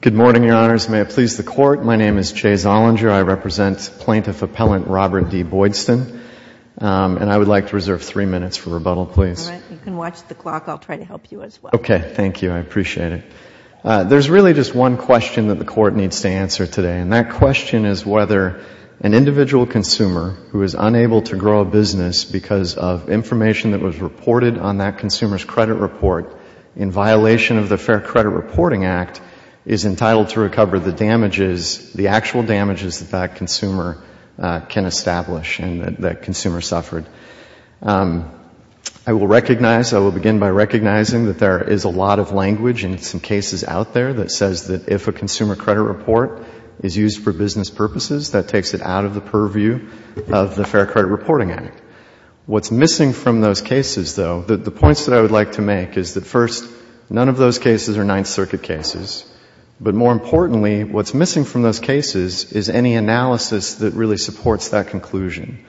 Good morning, Your Honors. May it please the Court, my name is Jay Zollinger. I represent Plaintiff Appellant Robert D. Boydstun, and I would like to reserve three minutes for rebuttal, please. You can watch the clock. I'll try to help you as well. Okay, thank you. I appreciate it. There's really just one question that the Court needs to answer today, and that question is whether an individual consumer who is unable to grow a business because of information that was reported on that consumer's credit report in violation of the Fair Credit Reporting Act is entitled to recover the damages, the actual damages that that consumer can establish and that that consumer suffered. I will recognize, I will begin by recognizing that there is a lot of language in some cases out there that says that if a consumer credit report is used for business purposes, that takes it out of the purview of the Fair Credit Reporting Act. What's missing from those cases, though, the points that I would like to make is that first, none of those cases are Ninth Circuit cases, but more importantly, what's missing from those cases is any analysis that really supports that conclusion.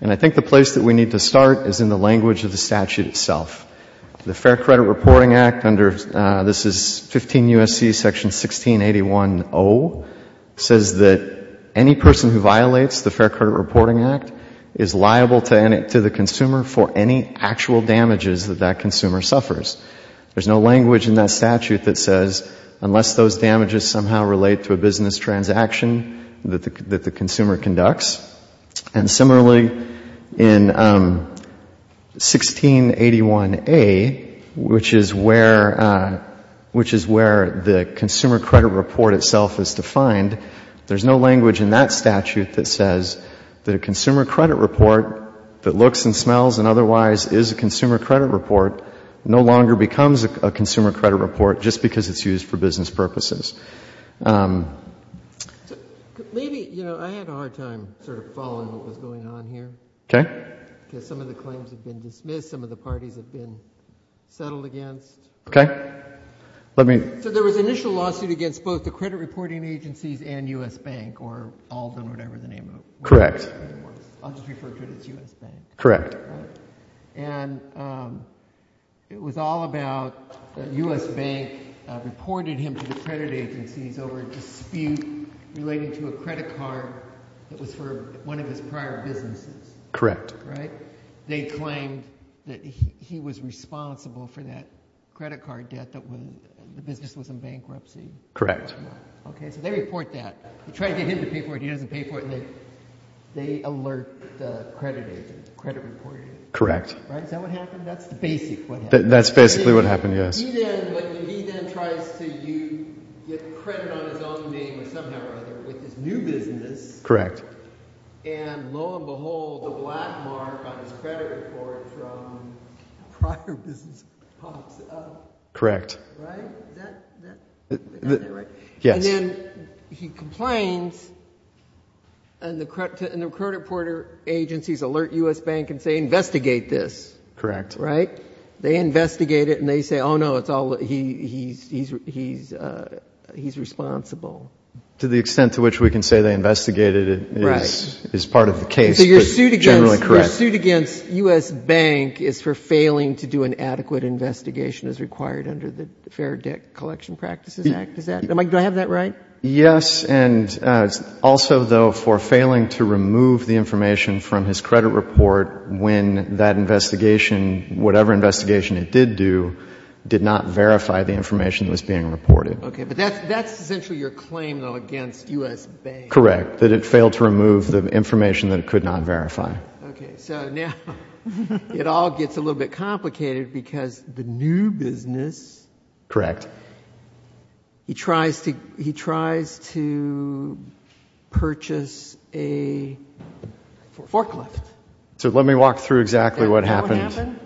And I think the place that we need to start is in the language of the statute itself. The Fair Credit Reporting Act under, this is 15 U.S.C. section 1681.0, says that any person who violates the Fair Credit Reporting Act is liable to the consumer for any actual damages that that consumer suffers. There's no language in that statute that says unless those damages somehow relate to a business transaction that the consumer conducts. And similarly, in 1681.a, which is where, which is where the consumer credit report itself is defined, there's no language in that statute that says that a consumer credit report that looks and smells and otherwise is a consumer credit report no longer becomes a consumer credit report just because it's used for business purposes. Maybe, you know, I had a hard time sort of following what was going on here. Okay. Because some of the claims have been dismissed, some of the parties have been settled against. Okay. So there was an initial lawsuit against both the credit reporting agencies and U.S. Bank or Alden or whatever the name of it. Correct. I'll just refer to it as U.S. Bank. Correct. And it was all about the U.S. Bank reported him to the credit agencies over a dispute relating to a credit card that was for one of his prior businesses. Correct. Right? They claimed that he was responsible for that credit card debt that when the business was in bankruptcy. Correct. Okay. So they report that. They try to get him to pay for it. He doesn't pay for it. And they alert the credit agency, the credit reporting agency. Correct. Right? Is that what happened? That's the basic what happened. That's basically what happened, yes. He then, when he then tries to get credit on his own name or somehow or other with his new business. Correct. And lo and behold, the black mark on his credit report from a prior business pops up. Correct. Right? Is that right? Yes. And then he complains and the credit reporting agencies alert U.S. Bank and say investigate this. Correct. Right? They investigate it and they say, oh no, it's all, he's responsible. To the extent to which we can say they investigated it is part of the case, but generally correct. So your suit against U.S. Bank is for failing to do an adequate investigation as required under the Fair Debt Collection Practices Act, is that, do I have that right? Yes. And also though for failing to remove the information from his credit report when that investigation, whatever investigation it did do, did not verify the information that was being reported. Okay. But that's essentially your claim though against U.S. Bank. Correct. That it failed to remove the information that it could not verify. Okay. So now it all gets a little bit complicated because the new business. Correct. He tries to, he tries to purchase a forklift. So let me walk through exactly what happened.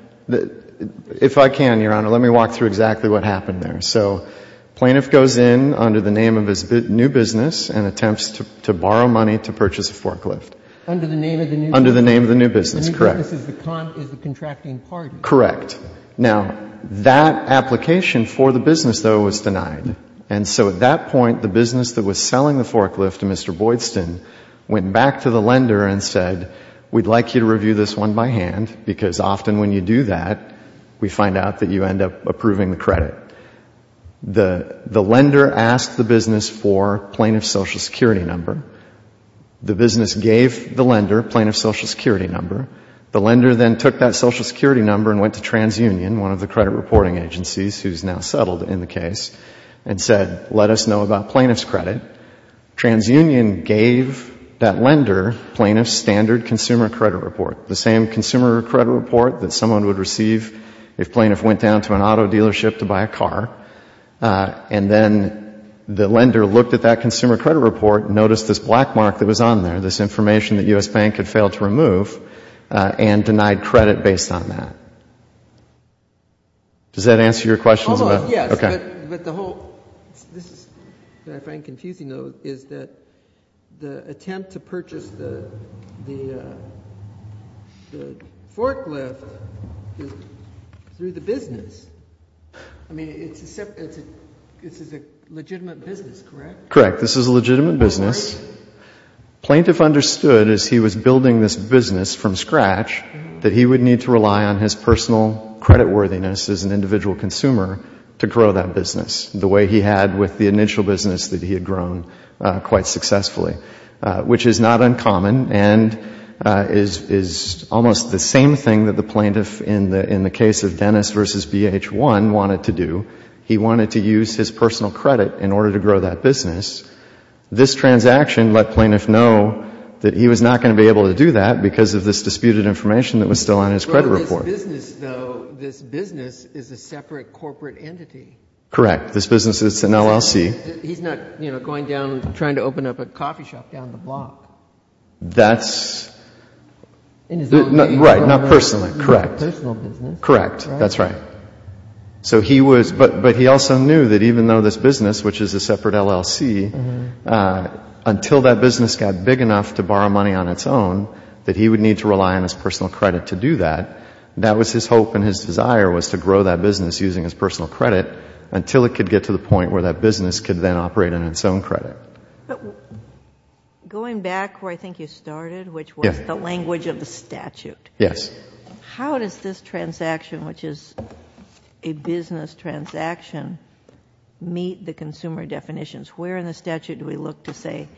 If I can, Your Honor, let me walk through exactly what happened there. So plaintiff goes in under the name of his new business and attempts to borrow money to purchase a forklift. Under the name of the new business. Under the name of the new business. Correct. The new business is the contracting party. Correct. Now, that application for the business though was denied. And so at that point, the business that was selling the forklift to Mr. Boydston went back to the lender and said, we'd like you to review this one by hand because often when you do that, we find out that you end up approving the credit. The lender asked the business for plaintiff's Social Security number. The business gave the lender plaintiff's Social Security number. The lender then took that Social Security number and went to TransUnion, one of the credit reporting agencies who's now settled in the case, and said, let us know about plaintiff's credit. TransUnion gave that lender plaintiff's standard consumer credit report. The same consumer credit report that someone would receive if plaintiff went down to an auto dealership to buy a car. And then the lender looked at that consumer credit report and noticed this black mark that was on there, this information that U.S. Bank had failed to remove and denied credit based on that. Does that answer your question? Oh, yes. Okay. But the whole, this is, if I'm confusing though, is that the attempt to purchase the forklift is through the business. I mean, it's a separate, this is a legitimate business, correct? Correct. This is a legitimate business. Plaintiff understood as he was building this business from scratch that he would need to rely on his personal credit worthiness as an individual consumer to grow that business the way he had with the initial business that he had grown quite successfully. Which is not uncommon and is almost the same thing that the plaintiff in the case of Dennis v. BH1 wanted to do. He wanted to use his personal credit in order to grow that business. This transaction let plaintiff know that he was not going to be able to do that because of this disputed information that was still on his credit report. Well, this business, though, this business is a separate corporate entity. Correct. This business is an LLC. He's not, you know, going down and trying to open up a coffee shop down the block. That's In his own name. Right. Not personally. Correct. That's right. So he was, but he also knew that even though this business, which is a separate LLC, until that business got big enough to borrow money on its own, that he would need to rely on his personal credit to do that. That was his hope and his desire was to grow that business using his personal credit until it could get to the point where that business could then operate on its own credit. Going back where I think you started, which was the language of the statute. Yes. How does this transaction, which is a business transaction, meet the consumer definitions? Where in the statute do we look to say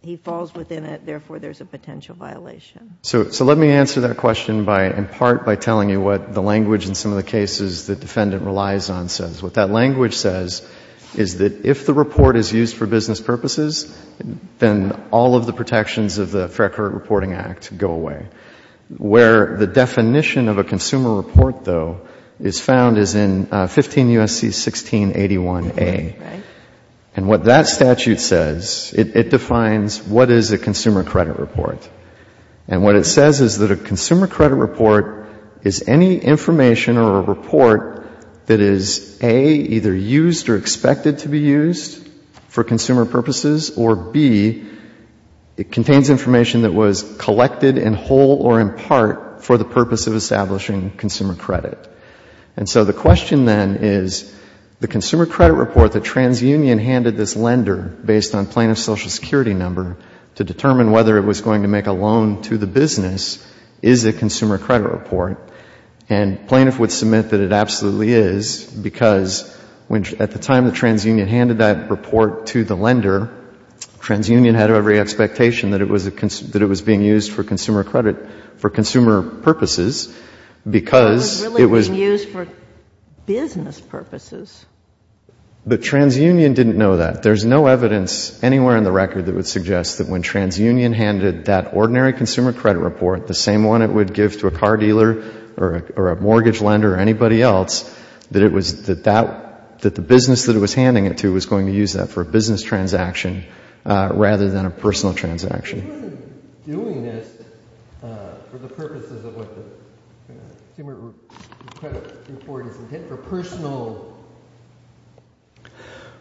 he falls within it, therefore there's a potential violation? So let me answer that question by, in part, by telling you what the language in some of the cases the defendant relies on says. What that language says is that if the report is used for business purposes, then all of the protections of the Fair Credit Reporting Act go away. Where the definition of a consumer report, though, is found is in 15 U.S.C. 1681a. And what that statute says, it defines what is a consumer credit report. And what it says is that a consumer credit report is any information or a report that is, A, either used or expected to be used for consumer purposes, or, B, it contains information that was collected in whole or in part for the purpose of establishing consumer credit. And so the question then is, the consumer credit report that TransUnion handed this lender based on plaintiff's Social Security number to determine whether it was going to make a loan to the business, is it a consumer credit report? And plaintiff would submit that it absolutely is, because at the time that TransUnion handed that report to the lender, TransUnion had every expectation that it was being used for consumer credit, for consumer purposes, because it was It was really being used for business purposes. But TransUnion didn't know that. There's no evidence anywhere in the record that would suggest that when TransUnion handed that ordinary consumer credit report, the same one it would give to a car dealer or a mortgage lender or anybody else, that it was, that that, that the business that it was handing it to was going to use that for a business transaction rather than a personal transaction. If it wasn't doing this for the purposes of what the consumer credit report is intended for personal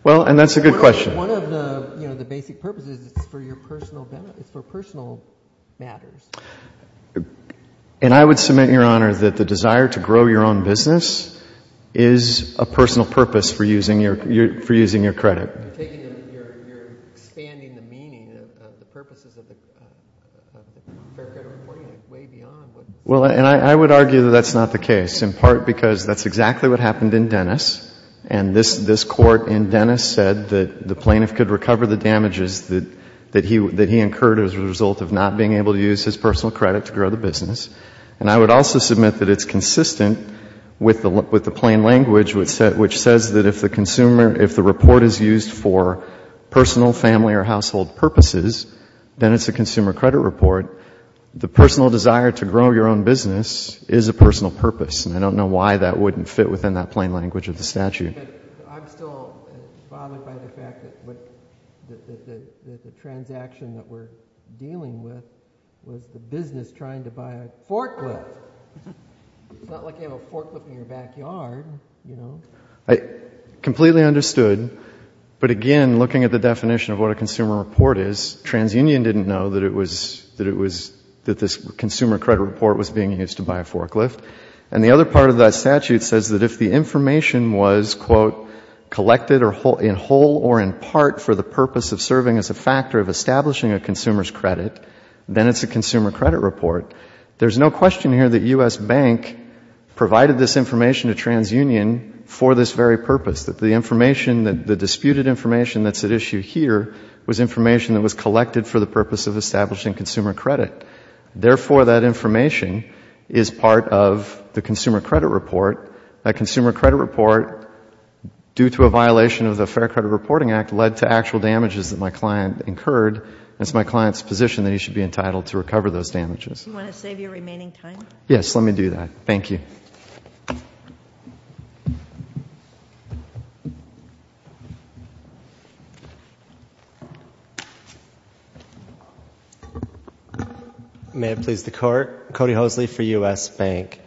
Well, and that's a good question. One of the, you know, the basic purposes is it's for your personal benefit, it's for personal matters. And I would submit, Your Honor, that the desire to grow your own business is a personal purpose for using your credit. You're taking, you're expanding the meaning of the purposes of the fair credit reporting way beyond what Well, and I would argue that that's not the case, in part because that's exactly what damages that, that he, that he incurred as a result of not being able to use his personal credit to grow the business. And I would also submit that it's consistent with the, with the plain language which says that if the consumer, if the report is used for personal, family or household purposes, then it's a consumer credit report. The personal desire to grow your own business is a personal purpose, and I don't know why that wouldn't fit within that plain language of the statute. I'm still bothered by the fact that the transaction that we're dealing with was the business trying to buy a forklift. It's not like you have a forklift in your backyard, you know. I completely understood, but again, looking at the definition of what a consumer report is, TransUnion didn't know that it was, that it was, that this consumer credit report was being used to buy a forklift. And the other part of that statute says that if the information was, quote, collected in whole or in part for the purpose of serving as a factor of establishing a consumer's credit, then it's a consumer credit report. There's no question here that U.S. Bank provided this information to TransUnion for this very purpose, that the information, the disputed information that's at issue here was information that was collected for the purpose of establishing consumer credit. Therefore, that information is part of the consumer credit report. That consumer credit report, due to a violation of the Fair Credit Reporting Act, led to actual damages that my client incurred, and it's my client's position that he should be entitled to recover those damages. Do you want to save your remaining time? Yes, let me do that. Thank you. May it please the Court. Cody Hosley for U.S. Bank.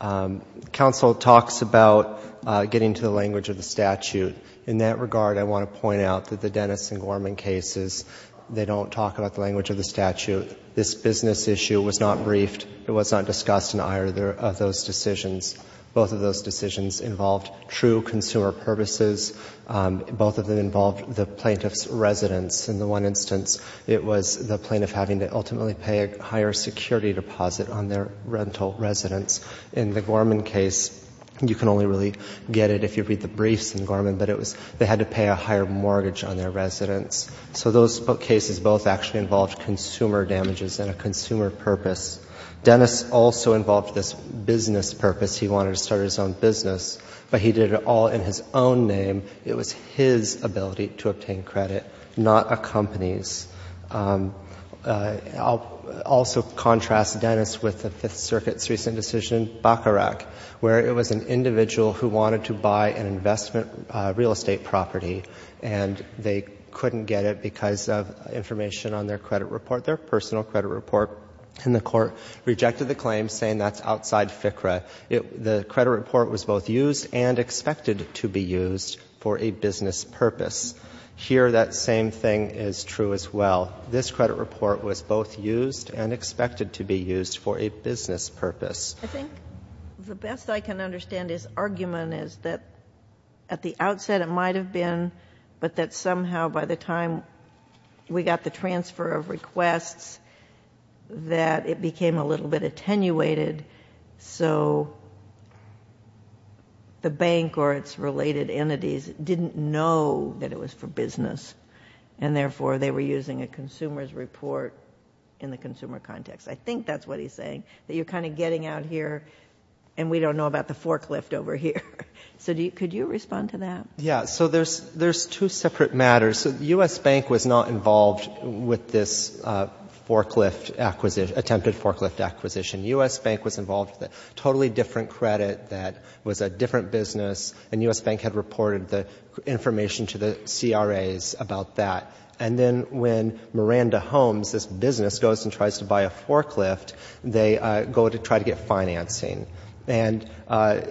Counsel talks about getting to the language of the statute. In that regard, I want to point out that the Dennis and Gorman cases, they don't talk about the language of the statute. This business issue was not briefed. It was not discussed in either of those decisions. Both of those decisions involved true consumer purposes. Both of them involved the plaintiff's residence. In the one instance, it was the plaintiff having to ultimately pay a higher security deposit on their rental residence. In the Gorman case, you can only really get it if you read the briefs in Gorman, but they had to pay a higher mortgage on their residence. So those cases both actually involved consumer damages and a consumer purpose. Dennis also involved this business purpose. He wanted to start his own business, but he did it all in his own name. It was his ability to obtain credit, not a company's. I'll also contrast Dennis with the Fifth Circuit's recent decision, Bacharach, where it was an individual who wanted to buy an investment real estate property, and they couldn't get it because of information on their credit report, their personal credit report, and the Court rejected the claim, saying that's outside FCRA. The credit report was both used and expected to be used for a business purpose. Here that same thing is true as well. This credit report was both used and expected to be used for a business purpose. I think the best I can understand his argument is that at the outset it might have been, but that somehow by the time we got the transfer of requests that it became a little bit attenuated. So the bank or its related entities didn't know that it was for business, and therefore they were using a consumer's report in the consumer context. I think that's what he's saying, that you're kind of getting out here and we don't know about the forklift over here. So could you respond to that? So there's two separate matters. The U.S. Bank was not involved with this forklift acquisition, attempted forklift acquisition. U.S. Bank was involved with a totally different credit that was a different business, and U.S. Bank had reported the information to the CRAs about that. And then when Miranda Homes, this business, goes and tries to buy a forklift, they go to try to get financing. And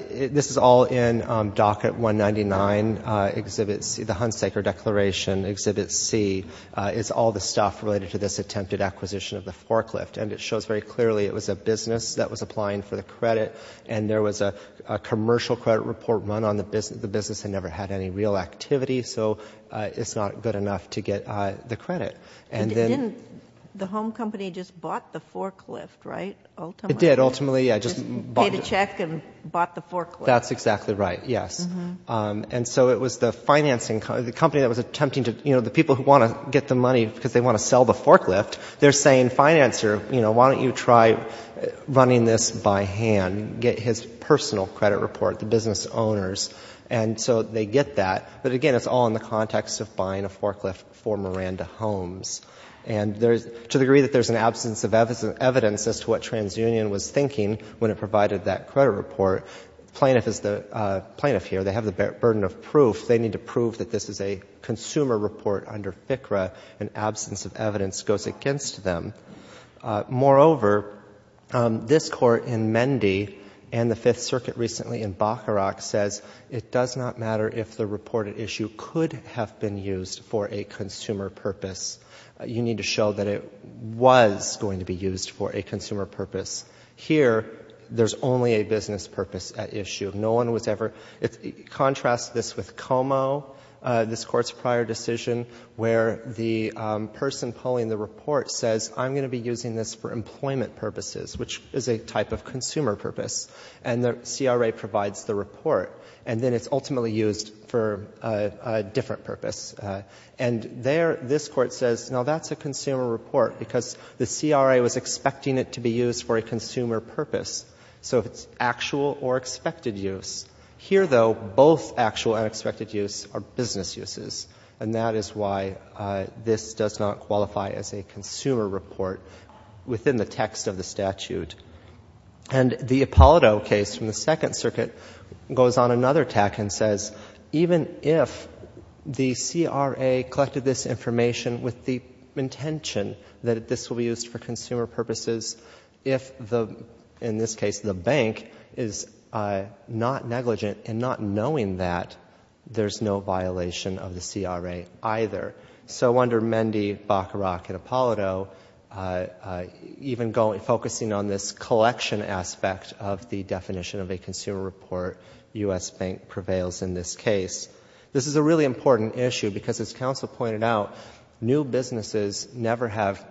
this is all in Docket 199, Exhibit C, the Hunsaker Declaration, Exhibit C, is all the stuff related to this attempted acquisition of the forklift. And it shows very clearly it was a business that was applying for the credit, and there was a commercial credit report run on the business. The business had never had any real activity, so it's not good enough to get the credit. And it didn't, the home company just bought the forklift, right, ultimately? It did, ultimately, yeah. Just paid a check and bought the forklift. That's exactly right, yes. And so it was the financing, the company that was attempting to, you know, the people who want to get the money because they want to sell the forklift, they're saying, financer, you know, why don't you try running this by hand? Get his personal credit report, the business owner's. And so they get that, but again, it's all in the context of buying a forklift for Miranda Homes. And to the degree that there's an absence of evidence as to what TransUnion was thinking when it provided that credit report, plaintiff is the plaintiff here, they have the burden of proof. They need to prove that this is a consumer report under FCRA. An absence of evidence goes against them. Moreover, this Court in Mende and the Fifth Circuit recently in Bacharach says it does not matter if the reported issue could have been used for a consumer purpose. You need to show that it was going to be used for a consumer purpose. Here there's only a business purpose at issue. No one was ever – contrast this with Como, this Court's prior decision, where the person pulling the report says, I'm going to be using this for employment purposes, which is a type of consumer purpose. And the CRA provides the report. And then it's ultimately used for a different purpose. And there this Court says, now that's a consumer report because the CRA was expecting it to be used for a consumer purpose. So it's actual or expected use. Here though, both actual and expected use are business uses. And that is why this does not qualify as a consumer report within the text of the statute. And the Ippolito case from the Second Circuit goes on another tack and says, even if the CRA collected this information with the intention that this will be used for consumer purposes, if the, in this case, the bank is not negligent in not knowing that, there's no violation of the CRA either. So under Mende, Bacharach, and Ippolito, even focusing on this collection aspect of the definition of a consumer report, U.S. Bank prevails in this case. This is a really important issue because, as counsel pointed out, new businesses never have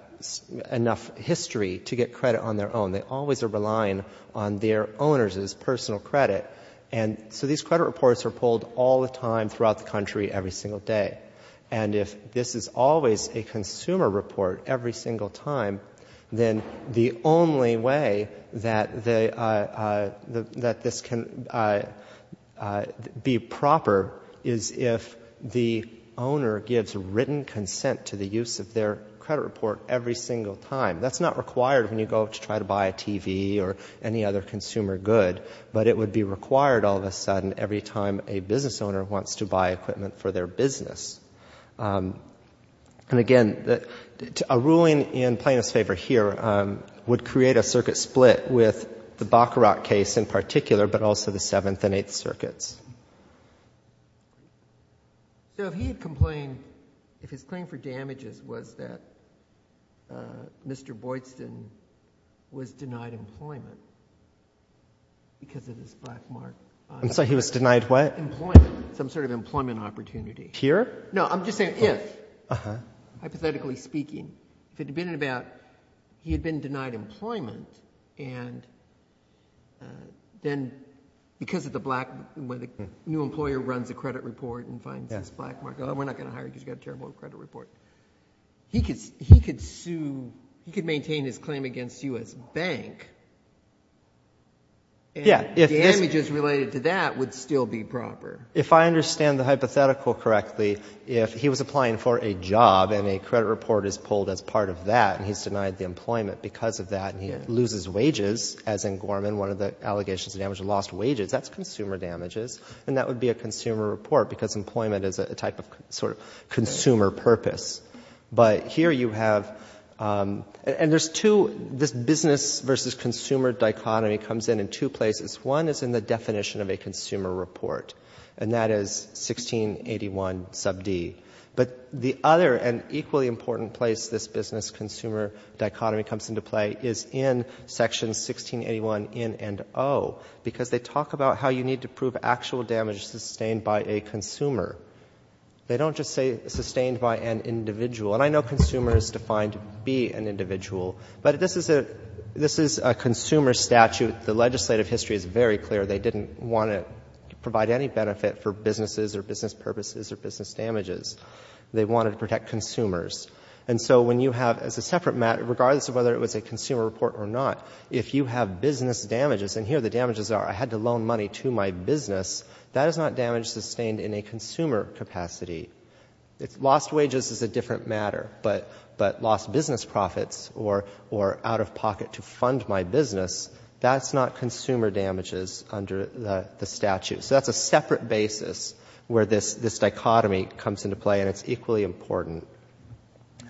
enough history to get credit on their own. They always are relying on their owners' personal credit. And so these credit reports are pulled all the time throughout the country every single day. And if this is always a consumer report every single time, then the only way that this can be proper is if the owner gives written consent to the use of their credit report every single time. That's not required when you go to try to buy a TV or any other consumer good, but it would be required all of a sudden every time a business owner wants to buy equipment for their business. And again, a ruling in plaintiff's favor here would create a circuit split with the Bacharach case in particular, but also the Seventh and Eighth Circuits. So if he had complained, if his claim for damages was that Mr. Boydston was denied employment because of his black mark— I'm sorry, he was denied what? Employment. Some sort of employment opportunity. Here? No, I'm just saying if. Uh-huh. Hypothetically speaking. If it had been about he had been denied employment, and then because of the black, when the new employer runs a credit report and finds this black mark, oh, we're not going to hire you because you've got a terrible credit report. He could sue, he could maintain his claim against you as bank, and damages related to that would still be proper. If I understand the hypothetical correctly, if he was applying for a job and a credit report is pulled as part of that, and he's denied the employment because of that, and he loses wages, as in Gorman, one of the allegations of damage, lost wages, that's consumer damages, and that would be a consumer report because employment is a type of sort of consumer purpose. But here you have—and there's two—this business versus consumer dichotomy comes in in two places. One is in the definition of a consumer report, and that is 1681 sub D. But the other and equally important place this business consumer dichotomy comes into play is in section 1681 in and O, because they talk about how you need to prove actual damage sustained by a consumer. They don't just say sustained by an individual, and I know consumer is defined B, an individual, but this is a consumer statute. The legislative history is very clear. They didn't want to provide any benefit for businesses or business purposes or business damages. They wanted to protect consumers. And so when you have, as a separate matter, regardless of whether it was a consumer report or not, if you have business damages, and here the damages are, I had to loan money to my business, that is not damage sustained in a consumer capacity. Lost wages is a different matter, but lost business profits or out-of-pocket to fund my business, that's not consumer damages under the statute. So that's a separate basis where this dichotomy comes into play, and it's equally important.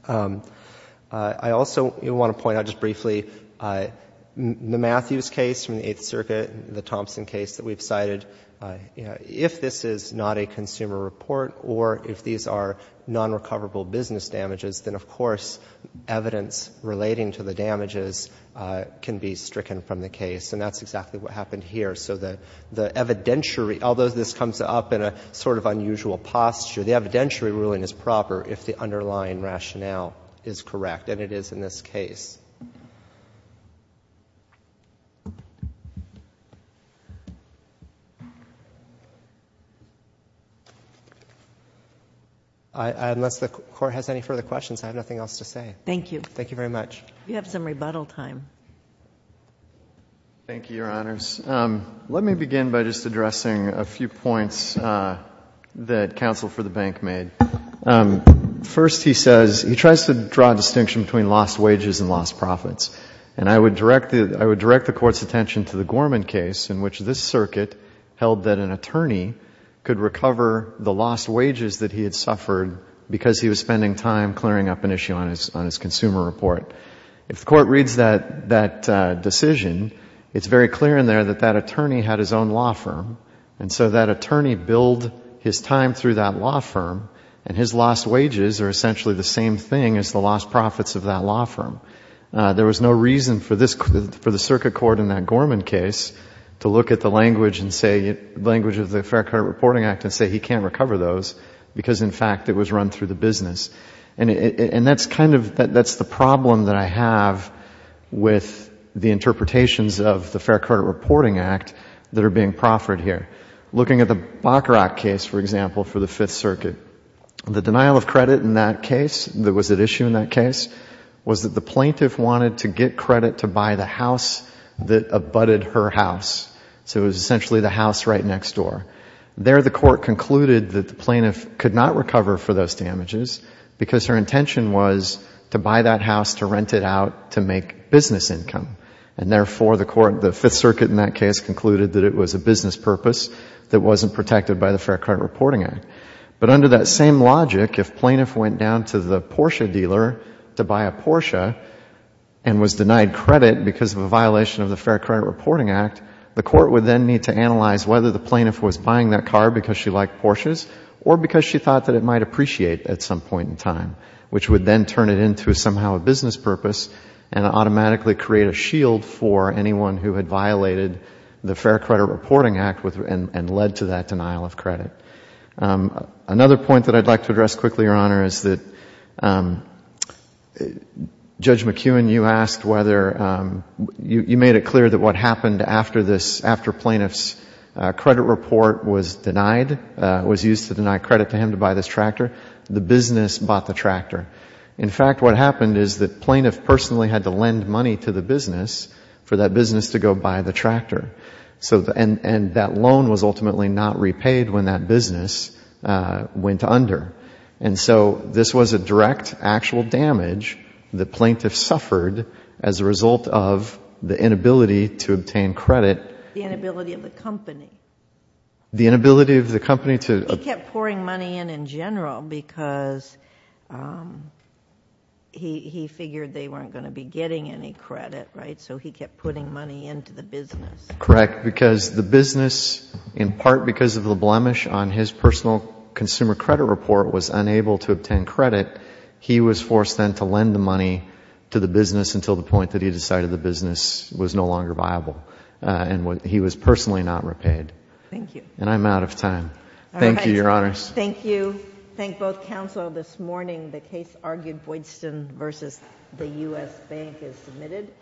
I also want to point out just briefly, the Matthews case from the Eighth Circuit, the Thompson case that we've cited, if this is not a consumer report or if these are non-recoverable business damages, then of course evidence relating to the damages can be stricken from the case, and that's exactly what happened here. So the evidentiary, although this comes up in a sort of unusual posture, the evidentiary ruling is proper if the underlying rationale is correct, and it is in this case. Unless the Court has any further questions, I have nothing else to say. Thank you. Thank you very much. We have some rebuttal time. Thank you, Your Honors. Let me begin by just addressing a few points that counsel for the bank made. First, he says, he tries to draw a distinction between lost wages and lost profits, and I would direct the Court's attention to the Gorman case in which this circuit held that an attorney could recover the lost wages that he had suffered because he was spending time clearing up an issue on his consumer report. If the Court reads that decision, it's very clear in there that that attorney had his own law firm, and so that attorney billed his time through that law firm, and his lost wages are essentially the same thing as the lost profits of that law firm. There was no reason for the circuit court in that Gorman case to look at the language of the Fair Credit Reporting Act and say he can't recover those because, in fact, it was run through the business, and that's the problem that I have with the interpretations of the Fair Credit Reporting Act that are being proffered here. Looking at the Bacharach case, for example, for the Fifth Circuit, the denial of credit in that case, that was at issue in that case, was that the plaintiff wanted to get credit to buy the house that abutted her house, so it was essentially the house right next door. There the Court concluded that the plaintiff could not recover for those damages because her intention was to buy that house to rent it out to make business income, and therefore the Fifth Circuit in that case concluded that it was a business purpose that wasn't protected by the Fair Credit Reporting Act. But under that same logic, if plaintiff went down to the Porsche dealer to buy a Porsche and was denied credit because of a violation of the Fair Credit Reporting Act, the Court would then need to analyze whether the plaintiff was buying that car because she liked Porsches or because she thought that it might appreciate at some point in time, which would then turn it into somehow a business purpose and automatically create a shield for anyone who had violated the Fair Credit Reporting Act and led to that denial of credit. Another point that I'd like to address quickly, Your Honor, is that Judge McEwen, you made it clear that what happened after plaintiff's credit report was denied, was used to deny credit to him to buy this tractor, the business bought the tractor. In fact, what happened is that plaintiff personally had to lend money to the business for that business to go buy the tractor. And that loan was ultimately not repaid when that business went under. And so this was a direct actual damage the plaintiff suffered as a result of the inability to obtain credit. The inability of the company. The inability of the company to— Because he figured they weren't going to be getting any credit, right? So he kept putting money into the business. Correct. Because the business, in part because of the blemish on his personal consumer credit report, was unable to obtain credit, he was forced then to lend the money to the business until the point that he decided the business was no longer viable and he was personally not repaid. Thank you. And I'm out of time. Thank you, Your Honors. Thank you. Thank you. Thank both counsel this morning. The case argued, Boydston v. The U.S. Bank is submitted.